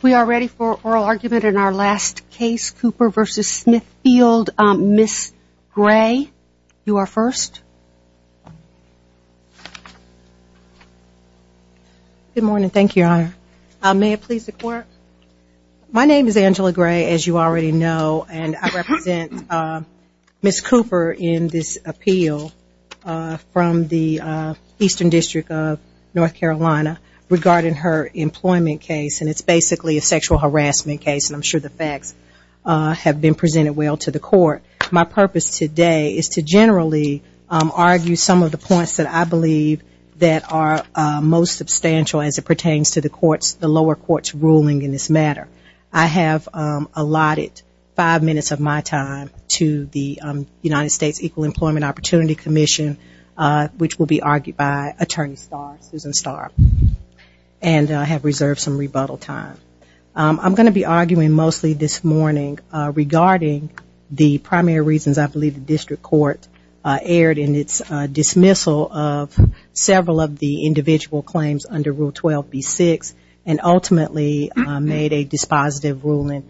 We are ready for oral argument in our last case, Cooper v. Smithfield. Ms. Gray, you are first. Good morning. Thank you, Your Honor. May it please the Court? My name is Angela Gray, as you already know, and I represent Ms. Cooper in this appeal from the Eastern District of North Carolina regarding her employment case, and it's basically a sexual harassment case, and I'm sure the facts have been presented well to the Court. My purpose today is to generally argue some of the points that I believe that are most substantial as it pertains to the lower court's ruling in this matter. I have allotted five minutes of my time to the United States Equal Employment Opportunity Commission, which will be argued by Attorney Starr, Susan Starr, and I have reserved some rebuttal time. I'm going to be arguing mostly this morning regarding the primary reasons I believe the district court erred in its dismissal of several of the individual claims under Rule 12b-6 and ultimately made a dispositive ruling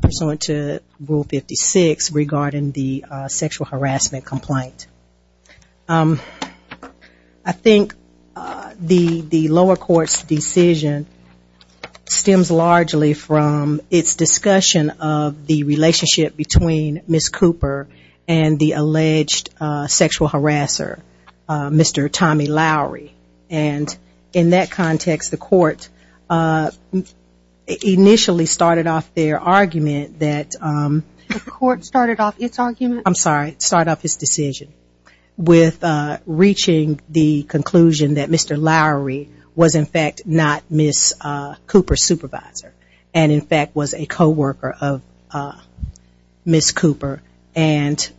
pursuant to Rule 56 regarding the sexual harassment complaint. I think the lower court's decision stems largely from its discussion of the relationship between Ms. Cooper and the alleged sexual harasser, Mr. Tommy Lowry, and in that context, the Court initially started off their argument that Mr. Lowry was in fact not Ms. Cooper's supervisor and in fact was a co-worker of Ms. Cooper and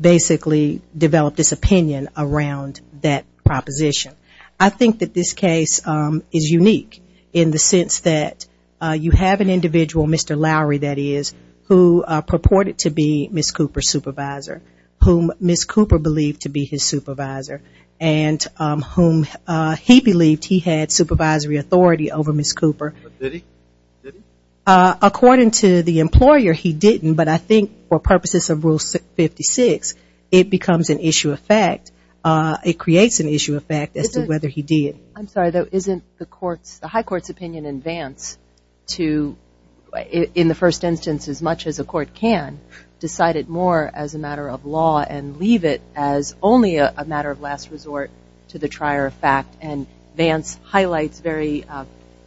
basically developed this opinion around that proposition. I think that this case is unique in the sense that you have an individual, Mr. Lowry that is, who purported to be Ms. Cooper's supervisor, whom Ms. Cooper believed to be his supervisor and whom he believed he had supervisory authority over Ms. Cooper. According to the employer, he didn't, but I think for purposes of Rule 56, it becomes an issue of fact. It creates an issue of fact as to whether he did. I'm sorry, though, isn't the High Court's opinion in Vance, in the first instance, as much as a court can, decided more as a matter of law and leave it as only a matter of last resort to the trier of fact and Vance highlights very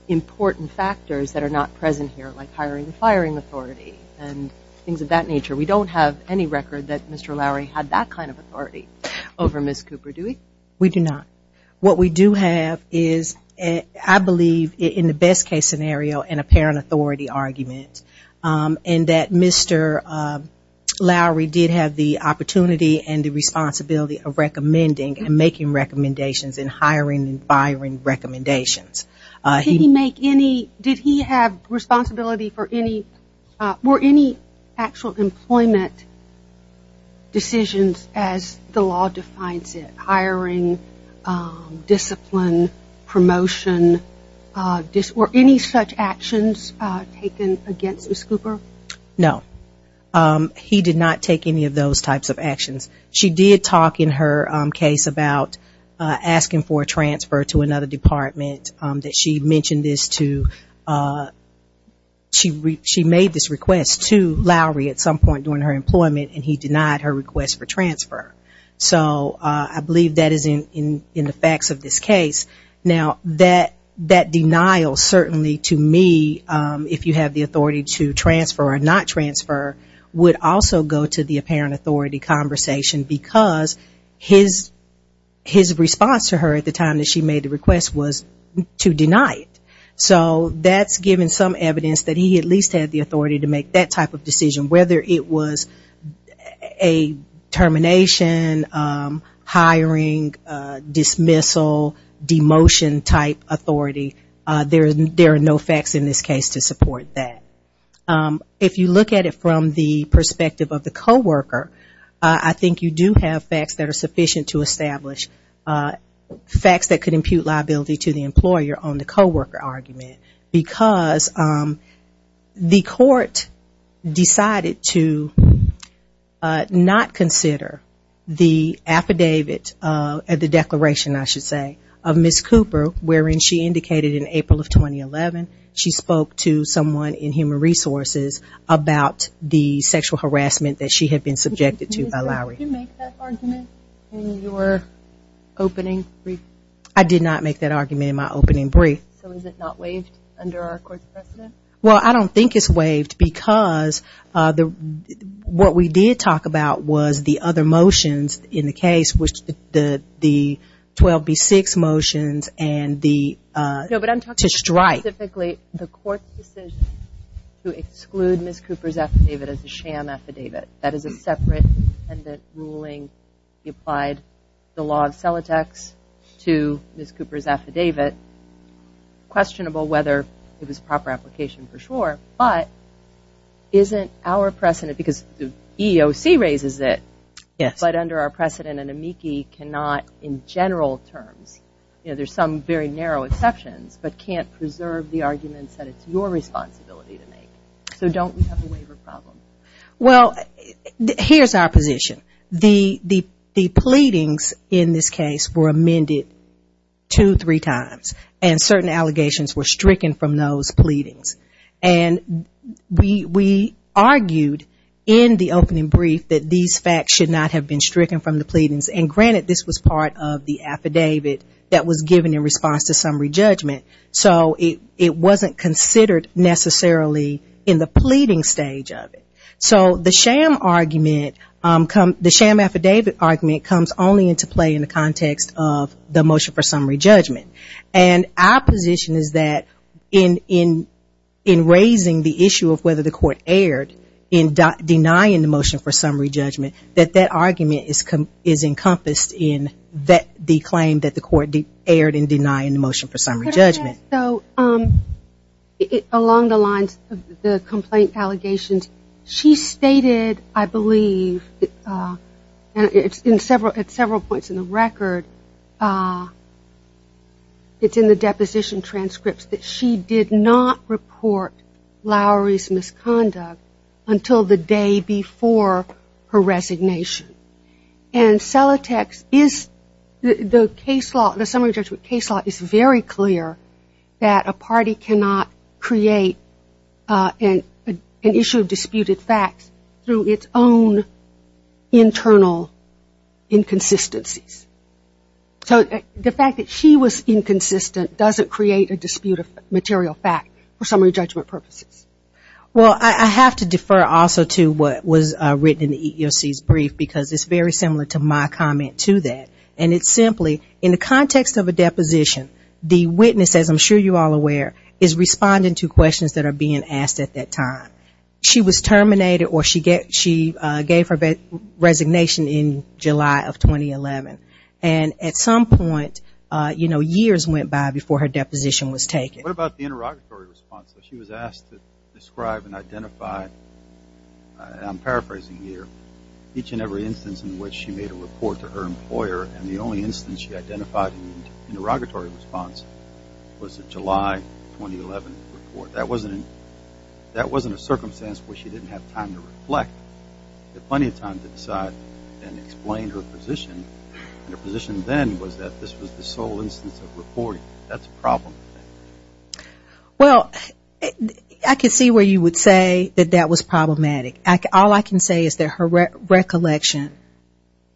important factors that are not present here, like hiring and firing authority and things of that nature. We don't have any record that Mr. Lowry had that kind of authority over Ms. Cooper, do we? We do not. What we do have is, I believe, in the best case scenario, an apparent authority argument in that Mr. Lowry did have the opportunity and the responsibility of recommending and making recommendations and hiring and firing recommendations. Did he make any, did he have responsibility for any, were any actual employment decisions as the law defines it, hiring, discipline, promotion, were any such actions taken against Ms. Cooper? No. He did not take any of those types of actions. She did talk in her case about asking for a transfer to another department, that she mentioned this to, she made this request to Lowry at some point during her employment and he denied her request for transfer. So I believe that is in the facts of this case. Now that denial certainly to me, if you have the authority to transfer or not transfer, would also go to the apparent authority conversation because his response to her at the time that she made the request was to deny it. So that's given some evidence that he at least had the type of decision, whether it was a termination, hiring, dismissal, demotion type authority, there are no facts in this case to support that. If you look at it from the perspective of the co-worker, I think you do have facts that are sufficient to establish facts that could impute liability to the employer on the co-worker argument because the court decided to not consider the affidavit, the declaration I should say, of Ms. Cooper wherein she indicated in April of 2011, she spoke to someone in Human Resources about the sexual harassment that she had been subjected to by Lowry. Did you make that argument in your opening brief? I did not make that argument in my opening brief. So is it not waived under our court's precedent? Well, I don't think it's waived because what we did talk about was the other motions in the case, which the 12B6 motions and the to strike. No, but I'm talking specifically the court's decision to exclude Ms. Cooper's affidavit as a sham affidavit. That is a separate independent ruling. We applied the law of Celotex to Ms. Cooper's affidavit. Questionable whether it was proper application for sure, but isn't our precedent, because the EEOC raises it, but under our precedent an amici cannot in general terms, there's some very narrow exceptions, but can't preserve the arguments that it's your responsibility to make. So don't we have a waiver problem? Well, here's our position. The pleadings in this case were amended two, three times, and certain allegations were stricken from those pleadings, and we argued in the opening brief that these facts should not have been stricken from the pleadings, and granted this was part of the affidavit that was given in response to summary judgment. So it wasn't considered necessarily in the pleading stage of it. So the sham affidavit argument comes only into play in the context of the motion for summary judgment, and our position is that in raising the issue of whether the court erred in denying the motion for summary judgment, that that argument is encompassed in the claim that the court erred in denying the motion for summary judgment. But I guess, though, along the lines of the complaint allegations, she stated, I believe, at several points in the record, it's in the deposition transcripts, that she did not report Lowry's misconduct until the day before her resignation. And Celotex is, the case law, the summary judgment case law is very clear that a party cannot create an issue of disputed facts through its own internal inconsistencies. So the fact that she was inconsistent doesn't create a dispute of material fact for summary judgment purposes. Well, I have to defer also to what was written in the EEOC's brief, because it's very similar to my comment to that. And it's simply, in the context of a deposition, the witness, as I'm sure you're all aware, is responding to questions that are being asked at that time. She was terminated, or she gave her resignation in July of 2011. And at some point, you know, years went by before her deposition was taken. What about the interrogatory response? So she was asked to describe and identify, and I'm paraphrasing here, each and every instance in which she made a report to her employer, and the only instance she identified in the interrogatory response was the July 2011 report. That wasn't a circumstance where she didn't have time to reflect. She had plenty of time to decide and explain her position. And her position then was that this was the sole instance of reporting. That's a problem. Well, I can see where you would say that that was problematic. All I can say is that her recollection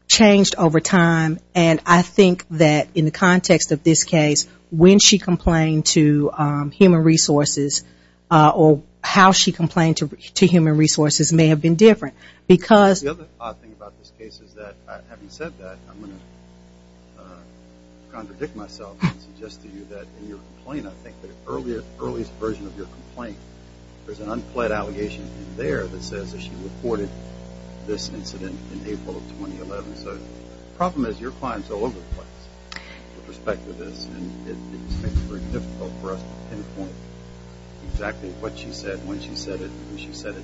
changed over time, and I think that in the context of this case, when she complained to Human Resources, or how she complained to Human Resources may have been different. The other odd thing about this case is that, having said that, I'm going to contradict myself and suggest to you that in your complaint, I think the earliest version of your complaint, there's an unplead allegation in there that says that she reported this incident in April of 2011. So the problem is, your client's all over the place with respect to this, and it's very difficult for us to pinpoint exactly what she said, when she said it, and who she said it to.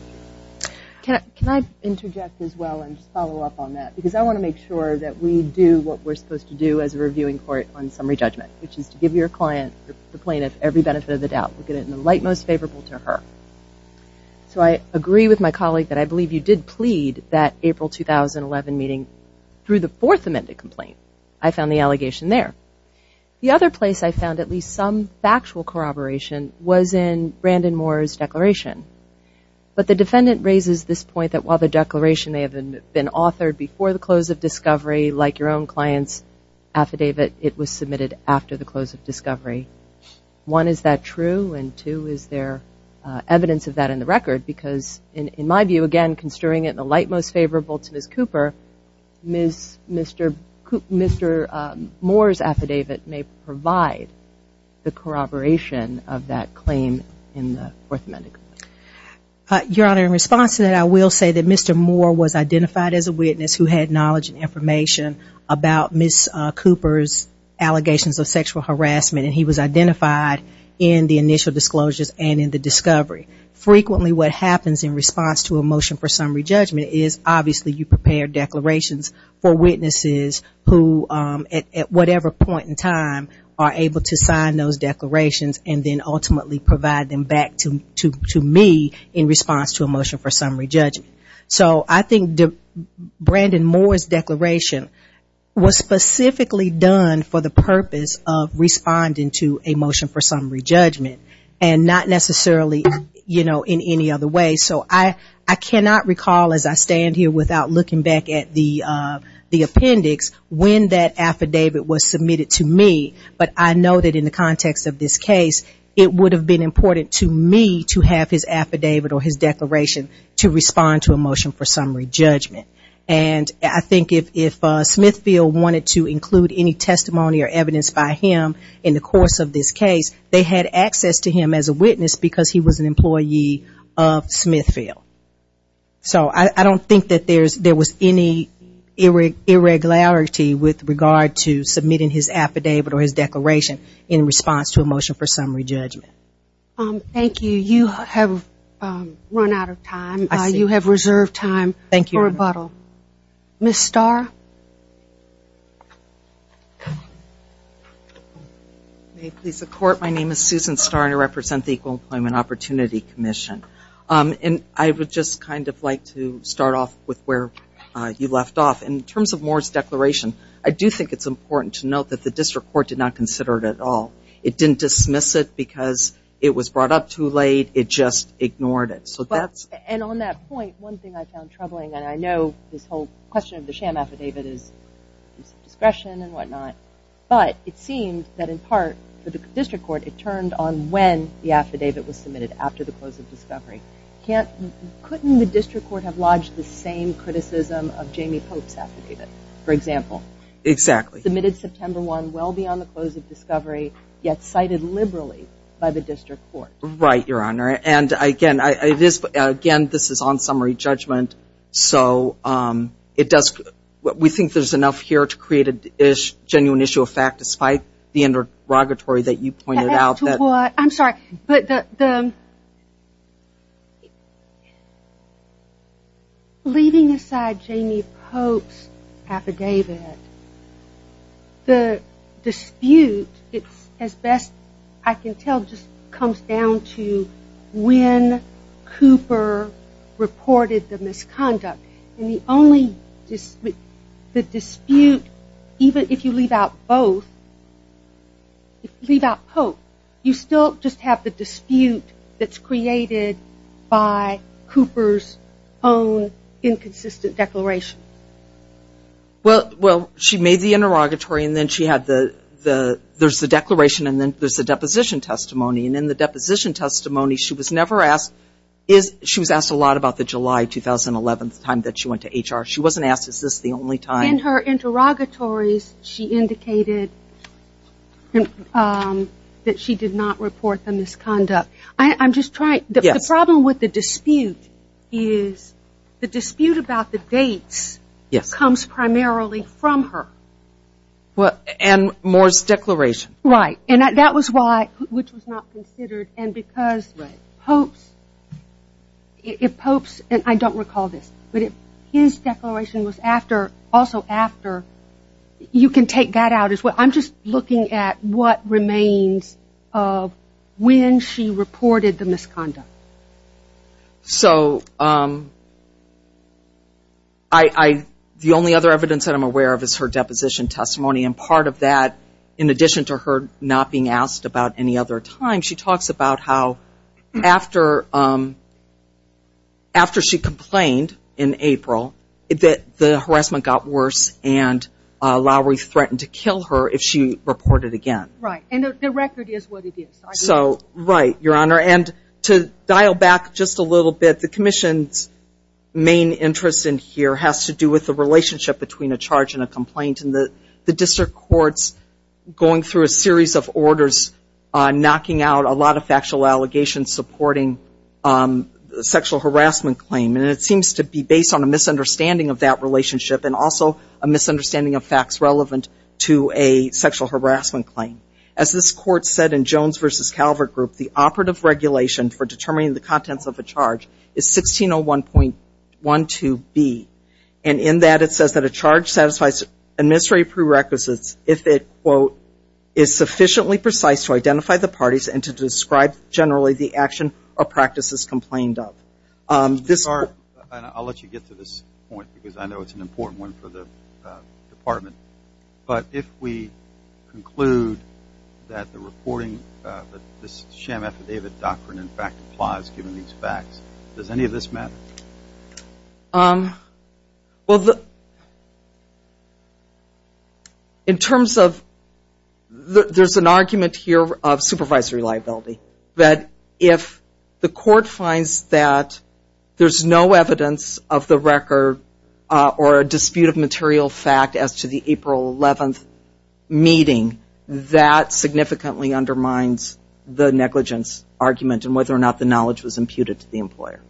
Can I interject as well and just follow up on that? Because I want to make sure that we do what we're supposed to do as a reviewing court on summary judgment, which is to give your client, the plaintiff, every benefit of the doubt. We'll get it in the light most favorable to her. So I agree with my colleague that I believe you did plead that April 2011 meeting through the fourth amended complaint. I found the allegation there. The other place I found at least some factual corroboration was in Brandon Moore's declaration. But the defendant raises this point that while the declaration may have been authored before the close of discovery, like your own client's affidavit, it was submitted after the close of discovery. One, is that true? And two, is there evidence of that in the record? Because in my view, again, considering it in the light most favorable to Ms. Cooper, Mr. Moore's affidavit may provide the corroboration of that claim in the fourth amended complaint. Your Honor, in response to that, I will say that Mr. Moore was identified as a witness who had knowledge and information about Ms. Cooper's allegations of sexual harassment. And he was identified in the initial disclosures and in the discovery. Frequently what happens in response to a motion for summary judgment is obviously you prepare declarations for witnesses who, at whatever point in time, are able to sign those to me in response to a motion for summary judgment. So I think Brandon Moore's declaration was specifically done for the purpose of responding to a motion for summary judgment. And not necessarily in any other way. So I cannot recall as I stand here without looking back at the appendix when that affidavit was submitted to me. But I know that in the context of this case, it would have been important to me to have his affidavit or his declaration to respond to a motion for summary judgment. And I think if Smithfield wanted to include any testimony or evidence by him in the course of this case, they had access to him as a witness because he was an employee of Smithfield. So I don't think that there was any irregularity with regard to submitting his affidavit or his declaration in response to a motion for summary judgment. Thank you. You have run out of time. I see. You have reserved time for rebuttal. Thank you. Ms. Starr? May it please the Court. My name is Susan Starr and I represent the Equal Employment Opportunity Commission. And I would just kind of like to start off with where you left off. In terms of Moore's declaration, I do think it's important to note that the district court did not consider it at all. It didn't dismiss it because it was brought up too late. It just ignored it. And on that point, one thing I found troubling, and I know this whole question of the sham affidavit is discretion and whatnot, but it seemed that in part for the district court, it turned on when the affidavit was submitted after the close of discovery. Couldn't the district court have lodged the same criticism of Jamie Pope's affidavit, for example? Exactly. Submitted September 1, well beyond the close of discovery, yet cited liberally by the district court. Right, Your Honor. And again, this is on summary judgment. So we think there's enough here to create a genuine issue of fact despite the I'm sorry. But the Leaving aside Jamie Pope's affidavit, the dispute, as best I can tell, just comes down to when Cooper reported the misconduct. And the only dispute, the dispute, even if you leave out both, if you leave out Pope, you still just have the dispute that's created by Cooper's own inconsistent declaration. Well, she made the interrogatory, and then she had the, there's the declaration, and then there's the deposition testimony. And in the deposition testimony, she was never asked, she was asked a lot about the July 2011 time that she went to HR. She wasn't asked, is this the only time? In her interrogatories, she indicated that she did not report the misconduct. I'm just trying, the problem with the dispute is the dispute about the dates comes primarily from her. And Moore's declaration. Right. And that was why, which was not considered, and because Pope's, if Pope's, and I don't recall this, but his declaration was after, also after, you can take that out as well. I'm just looking at what remains of when she reported the misconduct. So I, the only other evidence that I'm aware of is her deposition testimony. And part of that, in addition to her not being asked about any other time, she talks about how after she complained in April, that the harassment got worse and Lowry threatened to kill her if she reported again. Right. And the record is what it is. So, right, Your Honor. And to dial back just a little bit, the Commission's main interest in here has to do with the relationship between a officer courts going through a series of orders, knocking out a lot of factual allegations supporting sexual harassment claim. And it seems to be based on a misunderstanding of that relationship and also a misunderstanding of facts relevant to a sexual harassment claim. As this Court said in Jones v. Calvert Group, the operative regulation for determining the contents of a charge is 1601.12b. And in that it says that a charge satisfies administrative prerequisites if it, quote, is sufficiently precise to identify the parties and to describe generally the action or practices complained of. I'll let you get to this point because I know it's an important one for the Department. But if we conclude that the reporting, that this sham affidavit doctrine in fact applies given these facts, does any of this matter? Well, in terms of, there's an argument here of supervisory liability. That if the Court finds that there's no evidence of the record or a dispute of material fact as to the April 11th meeting, that significantly undermines the negligence argument and whether or not the knowledge was imputed to the employer.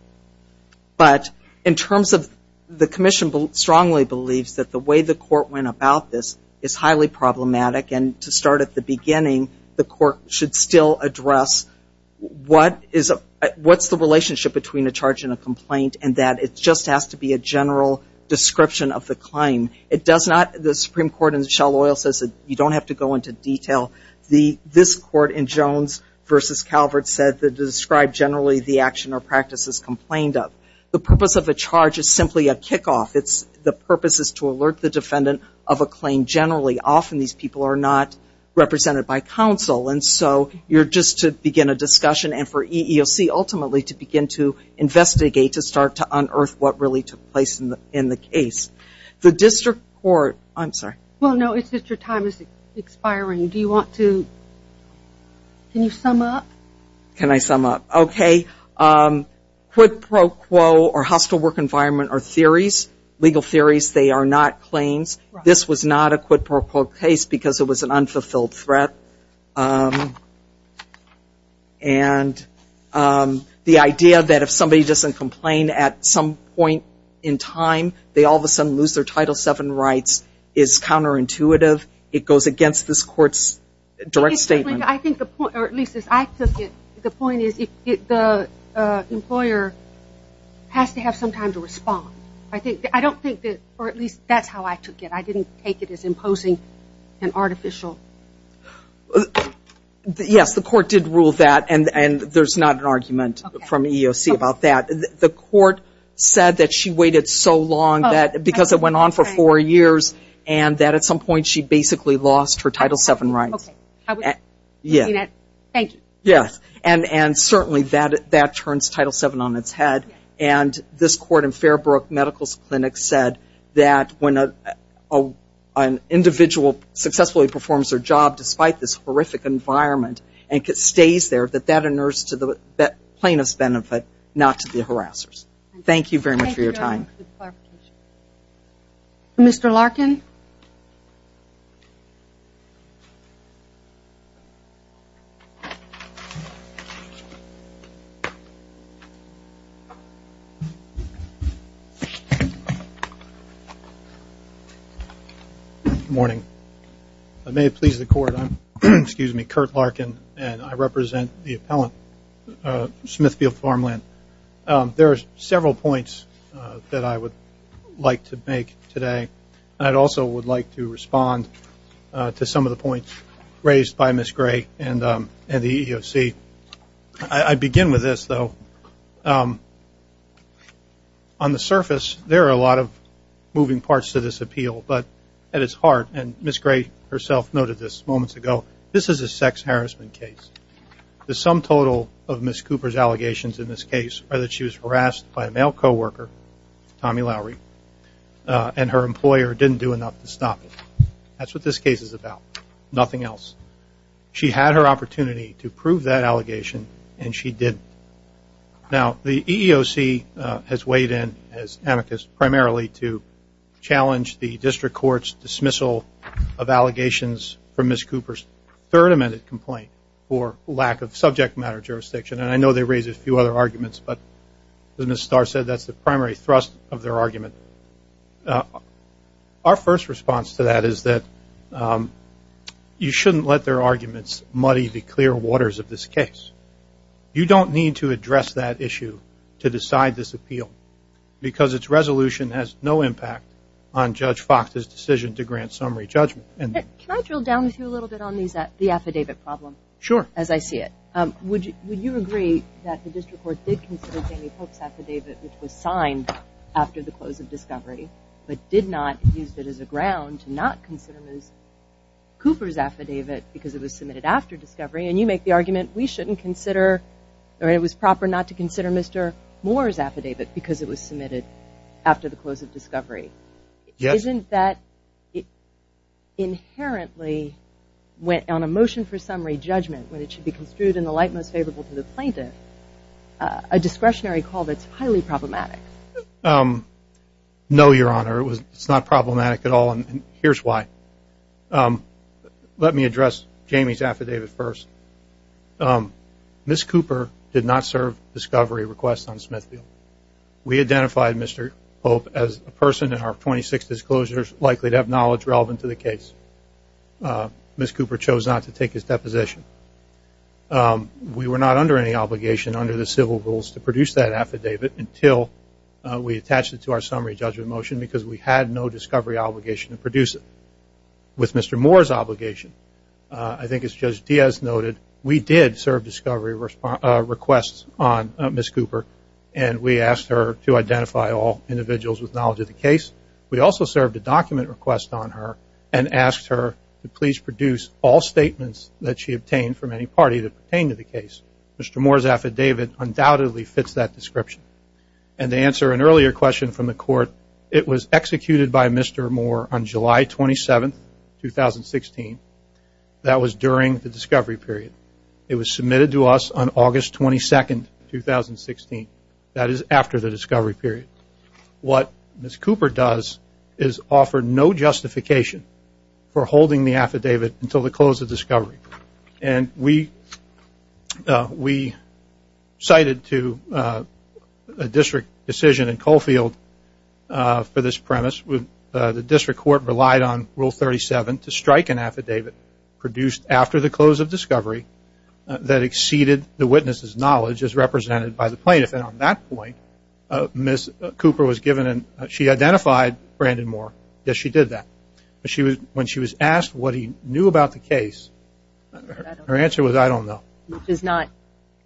But in terms of, the Commission strongly believes that the way the Court went about this is highly problematic and to start at the beginning, the Court should still address what is, what's the relationship between a charge and a complaint and that it just has to be a general description of the claim. It does not, the Supreme Court in Shell Oil says that you don't have to go into detail. This Court in Jones v. Calvert said to describe generally the action or practices complained of. The purpose of a charge is simply a kickoff. The purpose is to alert the defendant of a claim generally. Often these people are not represented by counsel. And so you're just to begin a discussion and for EEOC ultimately to begin to investigate to start to unearth what really took place in the case. The District Court, I'm sorry. Well, no, it's just your time is expiring. Do you want to, can you sum up? Can I sum up? Okay. Quid pro quo or hostile work environment are theories, legal theories. They are not claims. This was not a quid pro quo case because it was an unfulfilled threat. And the idea that if somebody doesn't complain at some point in time, they all of a sudden lose their Title VII rights is counterintuitive. It goes against this Court's direct statement. I think the point, or at least as I took it, the point is the employer has to have some time to respond. I don't think that, or at least that's how I took it. I didn't take it as imposing an artificial. Yes, the Court did rule that, and there's not an argument from EEOC about that. The Court said that she waited so long because it went on for four years and that at some point she basically lost her Title VII rights. Okay. Yeah. Thank you. Yes. And certainly that turns Title VII on its head. And this Court in Fairbrook Medical Clinic said that when an individual successfully performs their job despite this horrific environment and stays there, that that inures to the plaintiff's benefit, not to the harasser's. Thank you very much for your time. Thank you, Joan, for the clarification. Mr. Larkin? Good morning. If it may please the Court, I'm Kurt Larkin, and I represent the appellant, Smithfield Farmland. There are several points that I would like to make today, and I also would like to respond to some of the points raised by Ms. Gray and the EEOC. I begin with this, though. On the surface, there are a lot of moving parts to this appeal, but at its heart, and Ms. Gray herself noted this moments ago, this is a sex harassment case. The sum total of Ms. Cooper's allegations in this case are that she was harassed by a male coworker, Tommy Lowery, and her employer didn't do enough to stop it. That's what this case is about, nothing else. She had her opportunity to prove that allegation, and she did. Now, the EEOC has weighed in, as amicus, primarily to challenge the district court's dismissal of allegations from Ms. Cooper's complaint for lack of subject matter jurisdiction. And I know they raised a few other arguments, but as Ms. Starr said, that's the primary thrust of their argument. Our first response to that is that you shouldn't let their arguments muddy the clear waters of this case. You don't need to address that issue to decide this appeal, because its resolution has no impact on Judge Fox's decision to grant summary judgment. Can I drill down with you a little bit on the affidavit problem? Sure. As I see it. Would you agree that the district court did consider Jamie Pope's affidavit, which was signed after the close of discovery, but did not use it as a ground to not consider Ms. Cooper's affidavit because it was submitted after discovery? And you make the argument we shouldn't consider, or it was proper not to consider Mr. Moore's affidavit because it was submitted after the close of discovery. Yes. Isn't that inherently, on a motion for summary judgment, when it should be construed in the light most favorable to the plaintiff, a discretionary call that's highly problematic? No, Your Honor. It's not problematic at all, and here's why. Let me address Jamie's affidavit first. Ms. Cooper did not serve discovery requests on Smithfield. We identified Mr. Pope as a person in our 26 disclosures likely to have knowledge relevant to the case. Ms. Cooper chose not to take his deposition. We were not under any obligation under the civil rules to produce that affidavit until we attached it to our summary judgment motion because we had no discovery obligation to produce it. With Mr. Moore's obligation, I think as Judge Diaz noted, we did serve discovery requests on Ms. Cooper, and we asked her to identify all individuals with knowledge of the case. We also served a document request on her and asked her to please produce all statements that she obtained from any party that pertained to the case. Mr. Moore's affidavit undoubtedly fits that description. And to answer an earlier question from the Court, it was executed by Mr. Moore on July 27, 2016. That was during the discovery period. It was submitted to us on August 22, 2016. That is after the discovery period. What Ms. Cooper does is offer no justification for holding the affidavit until the close of discovery. And we cited to a district decision in Coalfield for this premise. The district court relied on Rule 37 to strike an affidavit produced after the close of discovery that exceeded the witness's knowledge as represented by the plaintiff. And on that point, Ms. Cooper was given and she identified Brandon Moore. Yes, she did that. When she was asked what he knew about the case, her answer was, I don't know.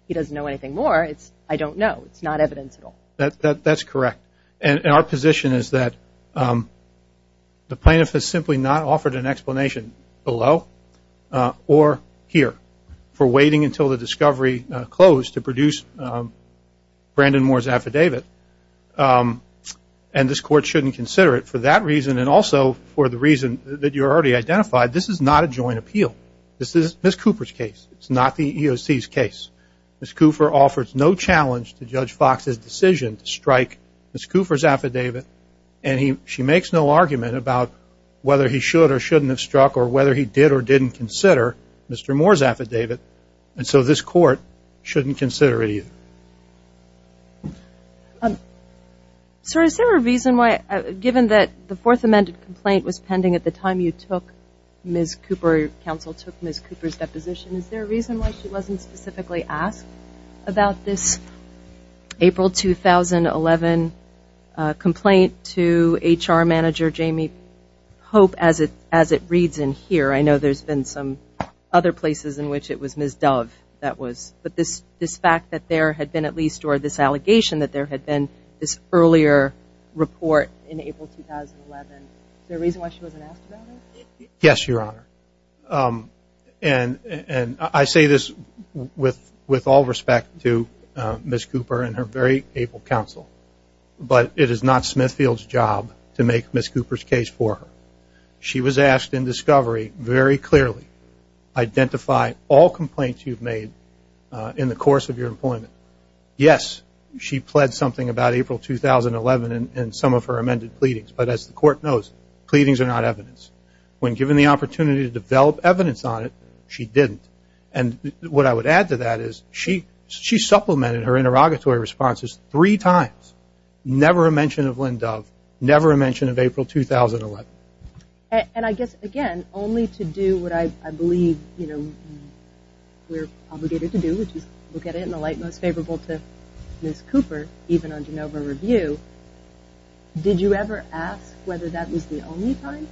He doesn't know anything more. I don't know. It's not evidence at all. That's correct. And our position is that the plaintiff has simply not offered an explanation below or here for waiting until the discovery closed to produce Brandon Moore's affidavit. And this Court shouldn't consider it for that reason and also for the reason that you already identified. This is not a joint appeal. This is Ms. Cooper's case. It's not the EOC's case. Ms. Cooper offers no challenge to Judge Fox's decision to strike Ms. Cooper's affidavit and she makes no argument about whether he should or shouldn't have struck or whether he did or didn't consider Mr. Moore's affidavit. And so this Court shouldn't consider it either. Sir, is there a reason why, given that the Fourth Amendment complaint was pending at the time you took Ms. Cooper, counsel took Ms. Cooper's deposition, is there a reason why she wasn't specifically asked about this April 2011 complaint to HR Manager Jamie Hope as it reads in here? I know there's been some other places in which it was Ms. Dove that was, but this fact that there had been at least, or this allegation that there had been this earlier report in April 2011, is there a reason why she wasn't asked about it? Yes, Your Honor. And I say this with all respect to Ms. Cooper and her very capable counsel, but it is not Smithfield's job to make Ms. Cooper's case for her. She was asked in discovery very clearly, identify all complaints you've made in the course of your employment. Yes, she pled something about April 2011 in some of her amended pleadings, but as the Court knows, pleadings are not evidence. When given the opportunity to develop evidence on it, she didn't. And what I would add to that is she supplemented her interrogatory responses three times, never a mention of Lynn Dove, never a mention of April 2011. And I guess, again, only to do what I believe we're obligated to do, which is look at it in the light most favorable to Ms. Cooper, even on Genova Review, did you ever ask whether that was the only time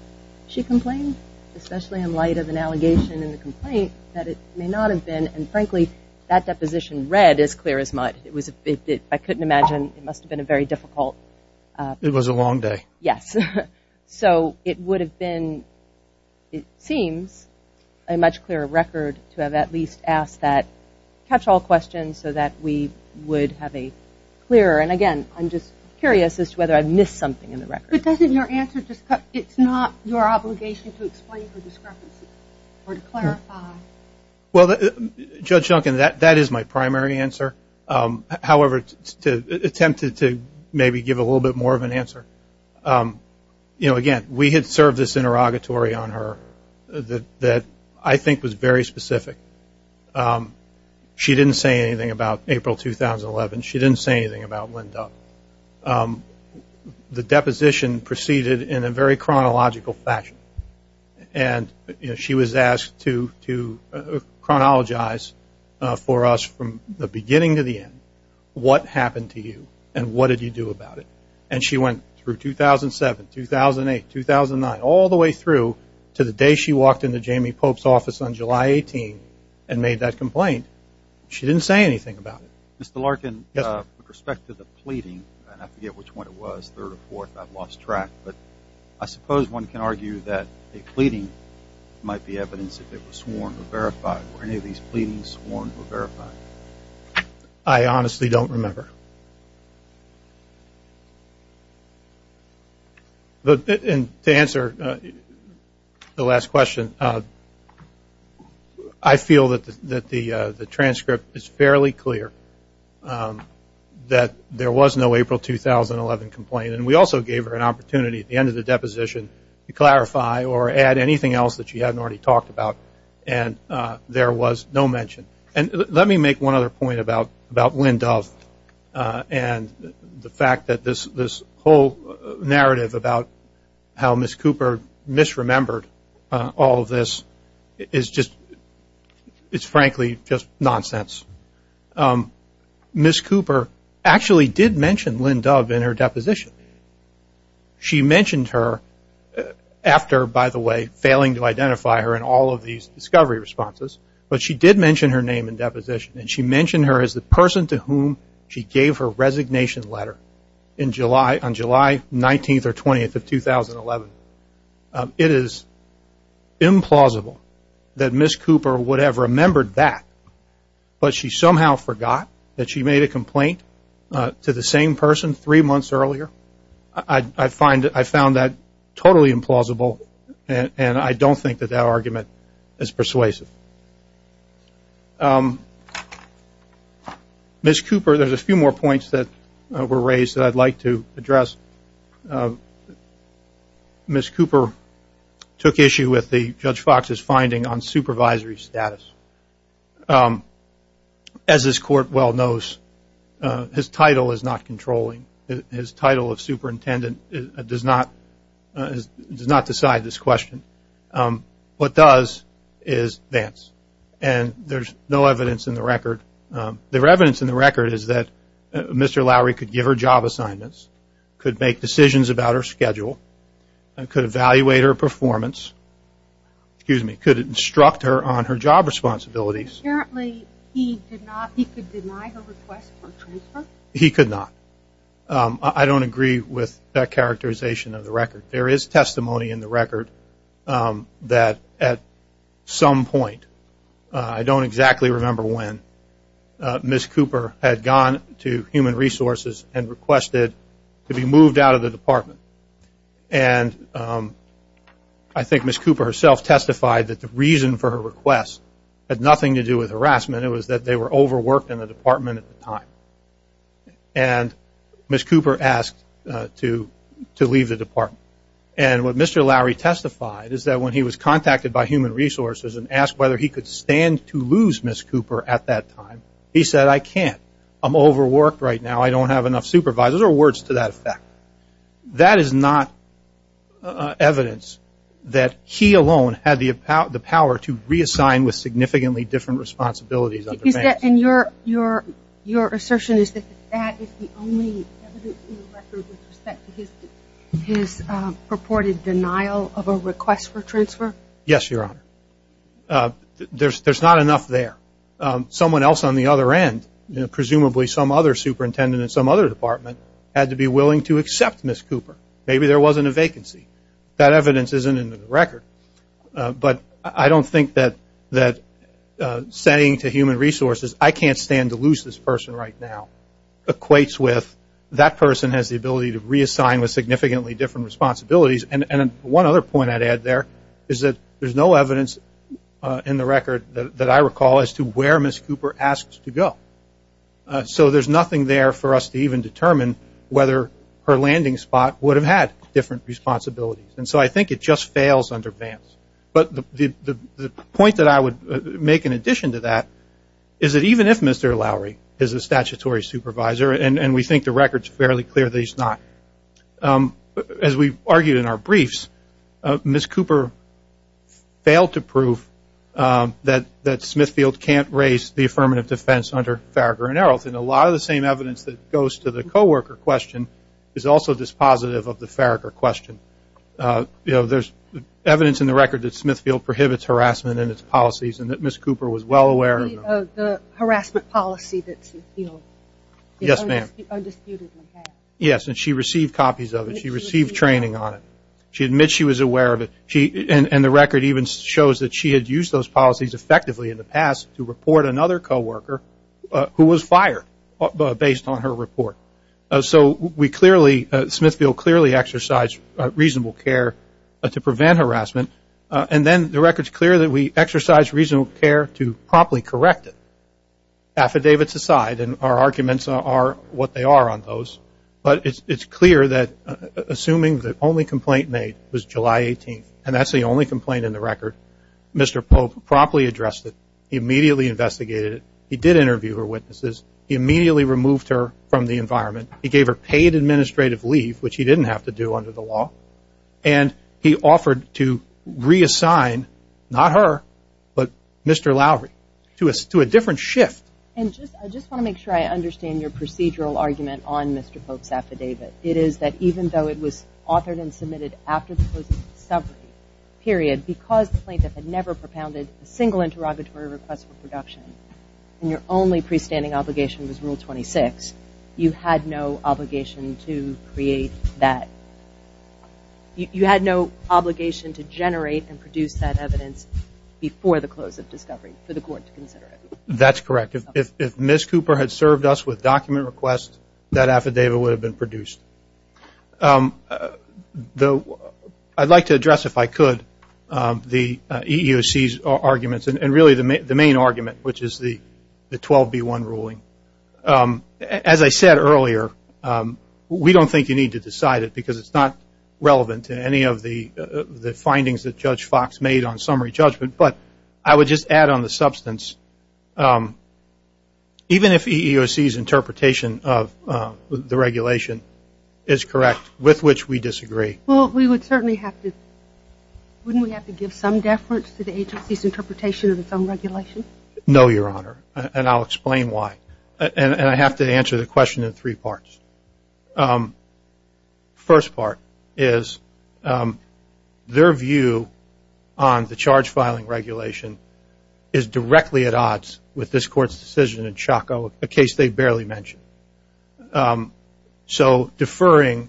she complained? Especially in light of an allegation in the complaint that it may not have been, and frankly, that deposition read as clear as mud. I couldn't imagine, it must have been a very difficult. It was a long day. Yes. So it would have been, it seems, a much clearer record to have at least asked that catch-all question so that we would have a clearer. And, again, I'm just curious as to whether I've missed something in the record. But doesn't your answer, it's not your obligation to explain for discrepancy or to clarify? Well, Judge Duncan, that is my primary answer. However, to attempt to maybe give a little bit more of an answer, you know, again, we had served this interrogatory on her that I think was very specific. She didn't say anything about April 2011. She didn't say anything about Linda. The deposition proceeded in a very chronological fashion. And, you know, she was asked to chronologize for us from the beginning to the end what happened to you and what did you do about it. And she went through 2007, 2008, 2009, all the way through to the day she walked into Jamie Pope's office on July 18 and made that complaint. She didn't say anything about it. Mr. Larkin, with respect to the pleading, and I forget which one it was, third or fourth, I've lost track, but I suppose one can argue that a pleading might be evidence that it was sworn or verified. Were any of these pleadings sworn or verified? I honestly don't remember. And to answer the last question, I feel that the transcript is fairly clear that there was no April 2011 complaint. And we also gave her an opportunity at the end of the deposition to clarify or add anything else that she hadn't already talked about. And there was no mention. And let me make one other point about Lynn Dove and the fact that this whole narrative about how Ms. Cooper misremembered all of this is just, it's frankly just nonsense. Ms. Cooper actually did mention Lynn Dove in her deposition. She mentioned her after, by the way, failing to identify her in all of these discovery responses, but she did mention her name in deposition. And she mentioned her as the person to whom she gave her resignation letter on July 19th or 20th of 2011. It is implausible that Ms. Cooper would have remembered that, but she somehow forgot that she made a complaint to the same person three months earlier. I found that totally implausible, and I don't think that that argument is persuasive. Ms. Cooper, there's a few more points that were raised that I'd like to address. Ms. Cooper took issue with Judge Fox's finding on supervisory status. As this court well knows, his title is not controlling. His title of superintendent does not decide this question. What does is Vance, and there's no evidence in the record. The evidence in the record is that Mr. Lowry could give her job assignments, could make decisions about her schedule, could evaluate her performance, excuse me, could instruct her on her job responsibilities. Apparently he could deny her request for transfer. He could not. I don't agree with that characterization of the record. There is testimony in the record that at some point, I don't exactly remember when, Ms. Cooper had gone to Human Resources and requested to be moved out of the department. And I think Ms. Cooper herself testified that the reason for her request had nothing to do with harassment. It was that they were overworked in the department at the time. And Ms. Cooper asked to leave the department. And what Mr. Lowry testified is that when he was contacted by Human Resources and asked whether he could stand to lose Ms. Cooper at that time, he said, I can't. I'm overworked right now. I don't have enough supervisors or words to that effect. That is not evidence that he alone had the power to reassign with significantly different responsibilities. And your assertion is that that is the only evidence in the record with respect to his purported denial of a request for transfer? Yes, Your Honor. There's not enough there. Someone else on the other end, presumably some other superintendent in some other department, had to be willing to accept Ms. Cooper. Maybe there wasn't a vacancy. That evidence isn't in the record. But I don't think that saying to Human Resources, I can't stand to lose this person right now, equates with that person has the ability to reassign with significantly different responsibilities. And one other point I'd add there is that there's no evidence in the record that I recall as to where Ms. Cooper asked to go. So there's nothing there for us to even determine whether her landing spot would have had different responsibilities. And so I think it just fails under Vance. But the point that I would make in addition to that is that even if Mr. Lowry is a statutory supervisor, and we think the record is fairly clear that he's not, as we've argued in our briefs, Ms. Cooper failed to prove that Smithfield can't raise the affirmative defense under Farragher and Arolton. A lot of the same evidence that goes to the co-worker question is also dispositive of the Farragher question. You know, there's evidence in the record that Smithfield prohibits harassment in its policies and that Ms. Cooper was well aware of it. Yes, ma'am. Yes, and she received copies of it. She received training on it. She admits she was aware of it. And the record even shows that she had used those policies effectively in the past to report another co-worker who was fired, based on her report. So we clearly, Smithfield clearly exercised reasonable care to prevent harassment. And then the record's clear that we exercised reasonable care to promptly correct it. Affidavits aside, and our arguments are what they are on those, but it's clear that assuming the only complaint made was July 18th, and that's the only complaint in the record, Mr. Pope promptly addressed it. He immediately investigated it. He did interview her witnesses. He immediately removed her from the environment. He gave her paid administrative leave, which he didn't have to do under the law. And he offered to reassign not her but Mr. Lowry to a different shift. And I just want to make sure I understand your procedural argument on Mr. Pope's affidavit. It is that even though it was authored and submitted after the closing of the subcommittee, period, because the plaintiff had never propounded a single interrogatory request for production and your only pre-standing obligation was Rule 26, you had no obligation to create that. You had no obligation to generate and produce that evidence before the close of discovery for the court to consider it. That's correct. If Ms. Cooper had served us with document requests, that affidavit would have been produced. I'd like to address, if I could, the EEOC's arguments and really the main argument, which is the 12B1 ruling. As I said earlier, we don't think you need to decide it because it's not relevant to any of the findings that Judge Fox made on summary judgment. But I would just add on the substance, even if EEOC's interpretation of the regulation is correct, with which we disagree. Well, we would certainly have to. Wouldn't we have to give some deference to the agency's interpretation of its own regulation? No, Your Honor, and I'll explain why. And I have to answer the question in three parts. The first part is their view on the charge-filing regulation is directly at odds with this court's decision in Chaco, a case they barely mentioned. So deferring,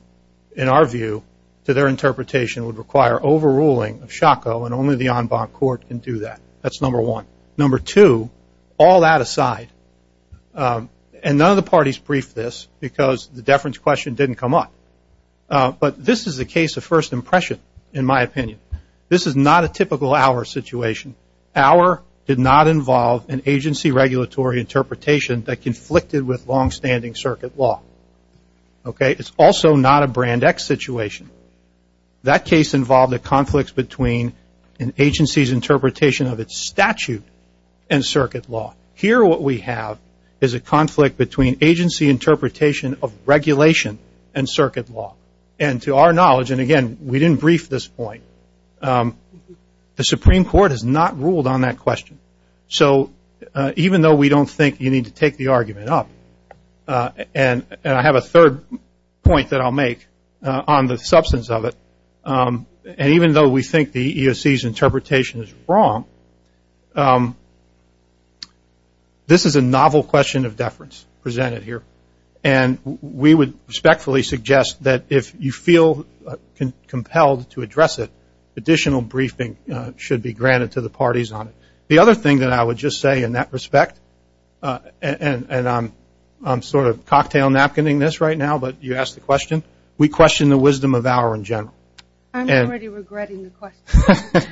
in our view, to their interpretation would require overruling of Chaco, and only the en banc court can do that. That's number one. Number two, all that aside, and none of the parties briefed this because the deference question didn't come up, but this is a case of first impression, in my opinion. This is not a typical Auer situation. Auer did not involve an agency regulatory interpretation that conflicted with longstanding circuit law. Okay? It's also not a Brand X situation. That case involved the conflicts between an agency's interpretation of its statute and circuit law. Here what we have is a conflict between agency interpretation of regulation and circuit law. And to our knowledge, and again, we didn't brief this point, the Supreme Court has not ruled on that question. So even though we don't think you need to take the argument up, and I have a third point that I'll make on the substance of it, and even though we think the EEOC's interpretation is wrong, this is a novel question of deference presented here. And we would respectfully suggest that if you feel compelled to address it, additional briefing should be granted to the parties on it. The other thing that I would just say in that respect, and I'm sort of cocktail napkinning this right now, but you asked the question, we question the wisdom of Auer in general. I'm already regretting the question.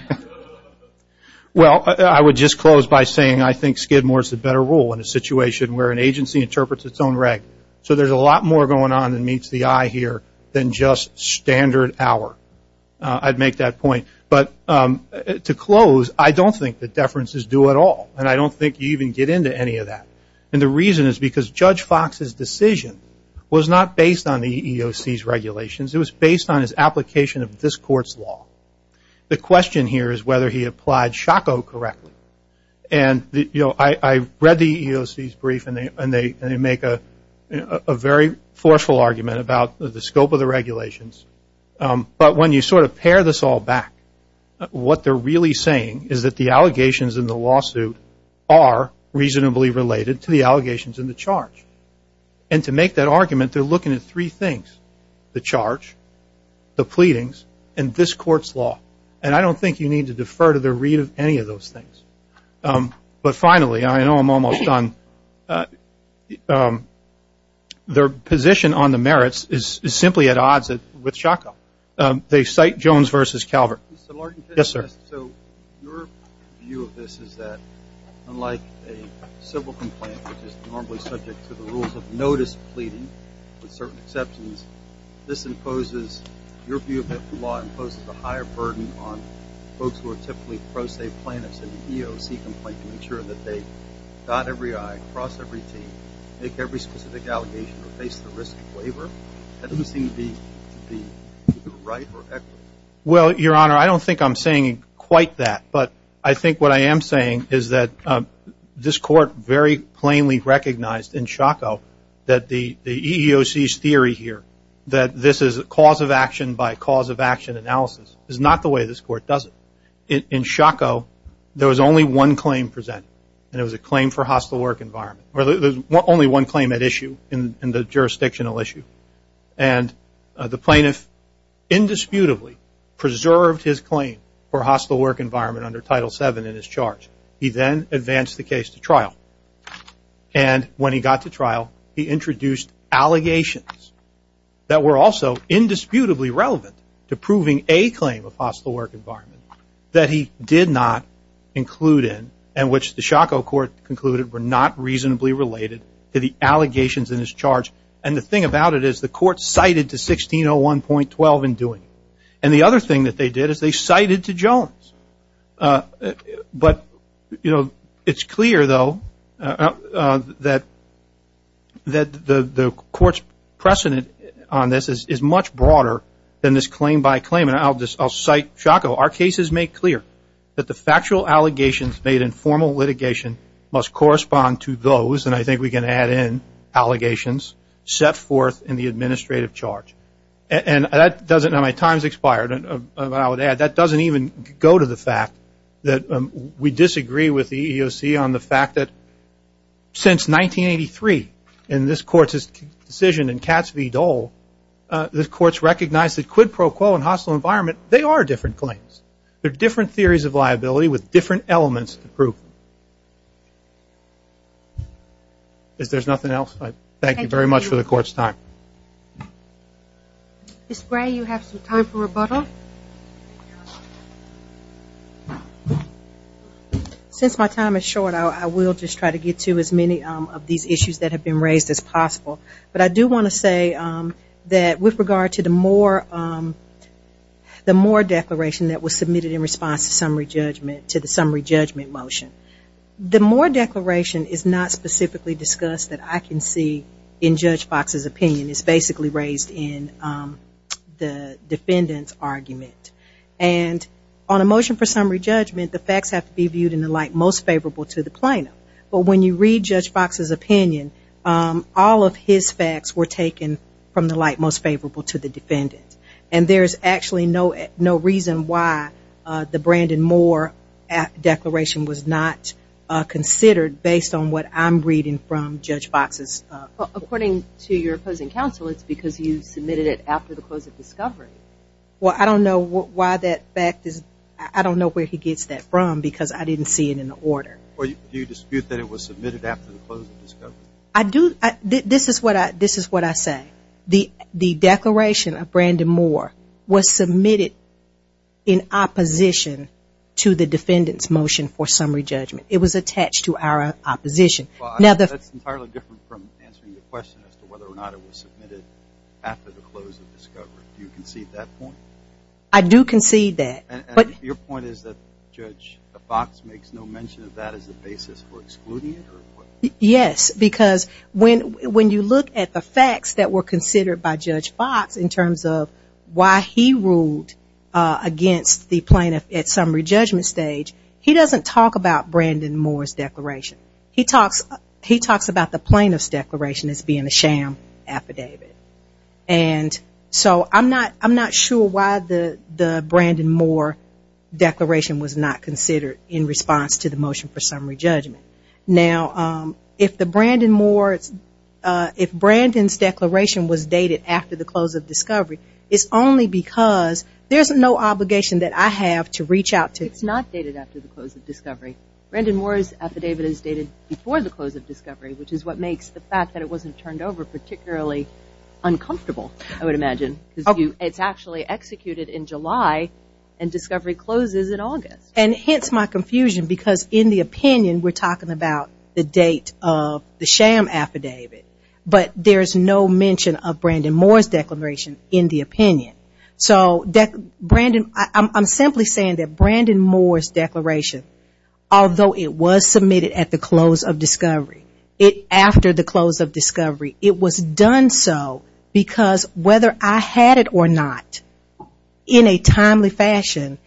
Well, I would just close by saying I think Skidmore is the better rule in a situation where an agency interprets its own reg. So there's a lot more going on than meets the eye here than just standard Auer. I'd make that point. But to close, I don't think that deference is due at all, and I don't think you even get into any of that. And the reason is because Judge Fox's decision was not based on the EEOC's regulations. It was based on his application of this Court's law. The question here is whether he applied Shako correctly. And, you know, I read the EEOC's brief, and they make a very forceful argument about the scope of the regulations. But when you sort of pare this all back, what they're really saying is that the allegations in the lawsuit are reasonably related to the allegations in the charge. And to make that argument, they're looking at three things, the charge, the pleadings, and this Court's law. And I don't think you need to defer to their read of any of those things. But finally, I know I'm almost done, their position on the merits is simply at odds with Shako. They cite Jones v. Calvert. Yes, sir. So your view of this is that unlike a civil complaint, which is normally subject to the rules of notice pleading, with certain exceptions, this imposes, your view of the law imposes a higher burden on folks who are typically pro se plaintiffs in the EEOC complaint to make sure that they dot every I, cross every T, make every specific allegation or face the risk of waiver? That doesn't seem to be to the right or equity. Well, your Honor, I don't think I'm saying quite that. But I think what I am saying is that this Court very plainly recognized in Shako that the EEOC's theory here, that this is a cause of action by cause of action analysis, is not the way this Court does it. In Shako, there was only one claim presented. And it was a claim for hostile work environment. Only one claim at issue in the jurisdictional issue. And the plaintiff indisputably preserved his claim for hostile work environment under Title VII in his charge. He then advanced the case to trial. And when he got to trial, he introduced allegations that were also indisputably relevant to proving a claim of that he did not include in and which the Shako Court concluded were not reasonably related to the allegations in his charge. And the thing about it is the Court cited to 1601.12 in doing it. And the other thing that they did is they cited to Jones. But, you know, it's clear, though, that the Court's precedent on this is much broader than this claim by claim. And I'll cite Shako. Our cases make clear that the factual allegations made in formal litigation must correspond to those, and I think we can add in, allegations set forth in the administrative charge. And that doesn't, now my time's expired, but I would add that doesn't even go to the fact that we disagree with the EEOC on the fact that since 1983, in this Court's decision in Katz v. Dole, the Court's recognized that quid pro quo and hostile environment, they are different claims. They're different theories of liability with different elements to prove them. If there's nothing else, I thank you very much for the Court's time. Ms. Gray, you have some time for rebuttal. Since my time is short, I will just try to get to as many of these issues that have been raised as possible. But I do want to say that with regard to the Moore Declaration that was submitted in response to the summary judgment motion, the Moore Declaration is not specifically discussed that I can see in Judge Fox's opinion. It's basically raised in the defendant's argument. And on a motion for summary judgment, the facts have to be viewed in the light most favorable to the plaintiff. But when you read Judge Fox's opinion, all of his facts were taken from the light most favorable to the defendant. And there's actually no reason why the Brandon Moore Declaration was not considered based on what I'm reading from Judge Fox's opinion. Well, according to your opposing counsel, it's because you submitted it after the close of discovery. Well, I don't know why that fact is. I don't know where he gets that from because I didn't see it in the order. Do you dispute that it was submitted after the close of discovery? I do. This is what I say. The Declaration of Brandon Moore was submitted in opposition to the defendant's motion for summary judgment. It was attached to our opposition. That's entirely different from answering the question as to whether or not it was submitted after the close of discovery. Do you concede that point? I do concede that. Your point is that Judge Fox makes no mention of that as a basis for excluding it? Yes, because when you look at the facts that were considered by Judge Fox in terms of why he ruled against the plaintiff at summary judgment stage, he doesn't talk about Brandon Moore's Declaration. He talks about the plaintiff's Declaration as being a sham affidavit. And so I'm not sure why the Brandon Moore Declaration was not considered in response to the motion for summary judgment. Now, if Brandon's Declaration was dated after the close of discovery, it's only because there's no obligation that I have to reach out to It's not dated after the close of discovery. Brandon Moore's affidavit is dated before the close of discovery, which is what makes the fact that it wasn't turned over particularly uncomfortable, I would imagine, because it's actually executed in July and discovery closes in August. And hence my confusion, because in the opinion we're talking about the date of the sham affidavit, but there's no mention of Brandon Moore's Declaration in the opinion. So I'm simply saying that Brandon Moore's Declaration, although it was submitted at the close of discovery, after the close of discovery, it was done so because whether I had it or not, in a timely fashion,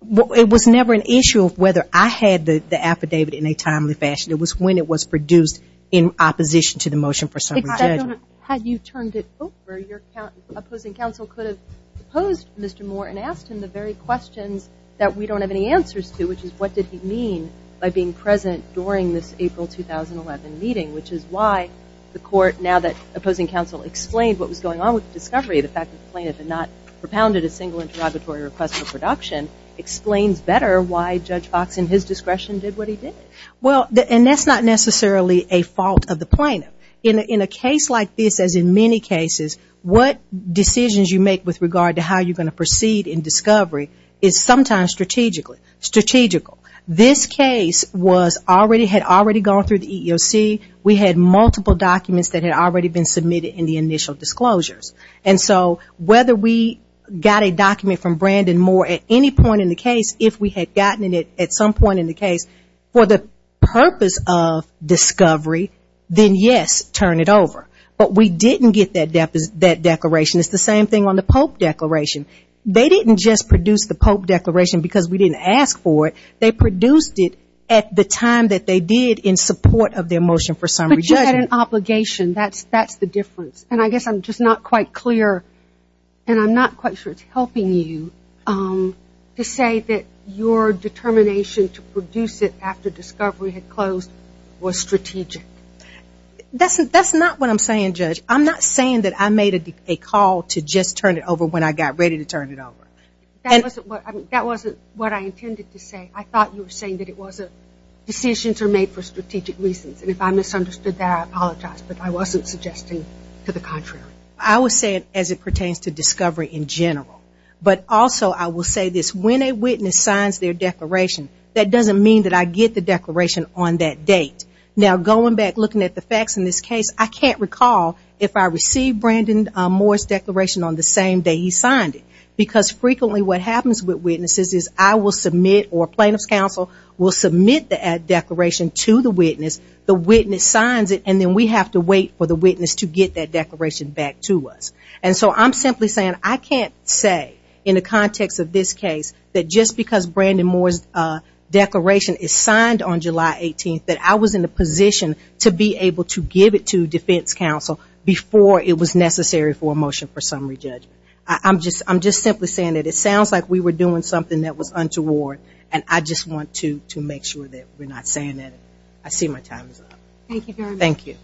it was never an issue of whether I had the affidavit in a timely fashion. It was when it was produced in opposition to the motion for summary judgment. Had you turned it over, your opposing counsel could have opposed Mr. Moore and asked him the very questions that we don't have any answers to, which is what did he mean by being present during this April 2011 meeting, which is why the court, now that opposing counsel explained what was going on with the discovery, the fact that the plaintiff had not propounded a single interrogatory request for production, explains better why Judge Fox in his discretion did what he did. Well, and that's not necessarily a fault of the plaintiff. In a case like this, as in many cases, what decisions you make with regard to how you're going to proceed in discovery is sometimes strategical. This case had already gone through the EEOC. We had multiple documents that had already been submitted in the initial disclosures. And so whether we got a document from Brandon Moore at any point in the case, if we had gotten it at some point in the case for the purpose of discovery, then, yes, turn it over. But we didn't get that declaration. It's the same thing on the Pope declaration. They didn't just produce the Pope declaration because we didn't ask for it. They produced it at the time that they did in support of their motion for summary judgment. But you had an obligation. That's the difference. And I guess I'm just not quite clear, and I'm not quite sure it's helping you, to say that your determination to produce it after discovery had closed was strategic. That's not what I'm saying, Judge. I'm not saying that I made a call to just turn it over when I got ready to turn it over. That wasn't what I intended to say. I thought you were saying that decisions are made for strategic reasons. And if I misunderstood that, I apologize, but I wasn't suggesting to the contrary. I would say it as it pertains to discovery in general. But also I will say this. When a witness signs their declaration, that doesn't mean that I get the declaration on that date. Now, going back, looking at the facts in this case, I can't recall if I received Brandon Moore's declaration on the same day he signed it because frequently what happens with witnesses is I will submit, or plaintiff's counsel will submit the declaration to the witness, the witness signs it, and then we have to wait for the witness to get that declaration back to us. And so I'm simply saying I can't say in the context of this case that just because Brandon Moore's declaration is signed on July 18th that I was in a position to be able to give it to defense counsel before it was necessary for a motion for summary judgment. I'm just simply saying that it sounds like we were doing something that was untoward, and I just want to make sure that we're not saying that. I see my time is up. Thank you very much. Thank you.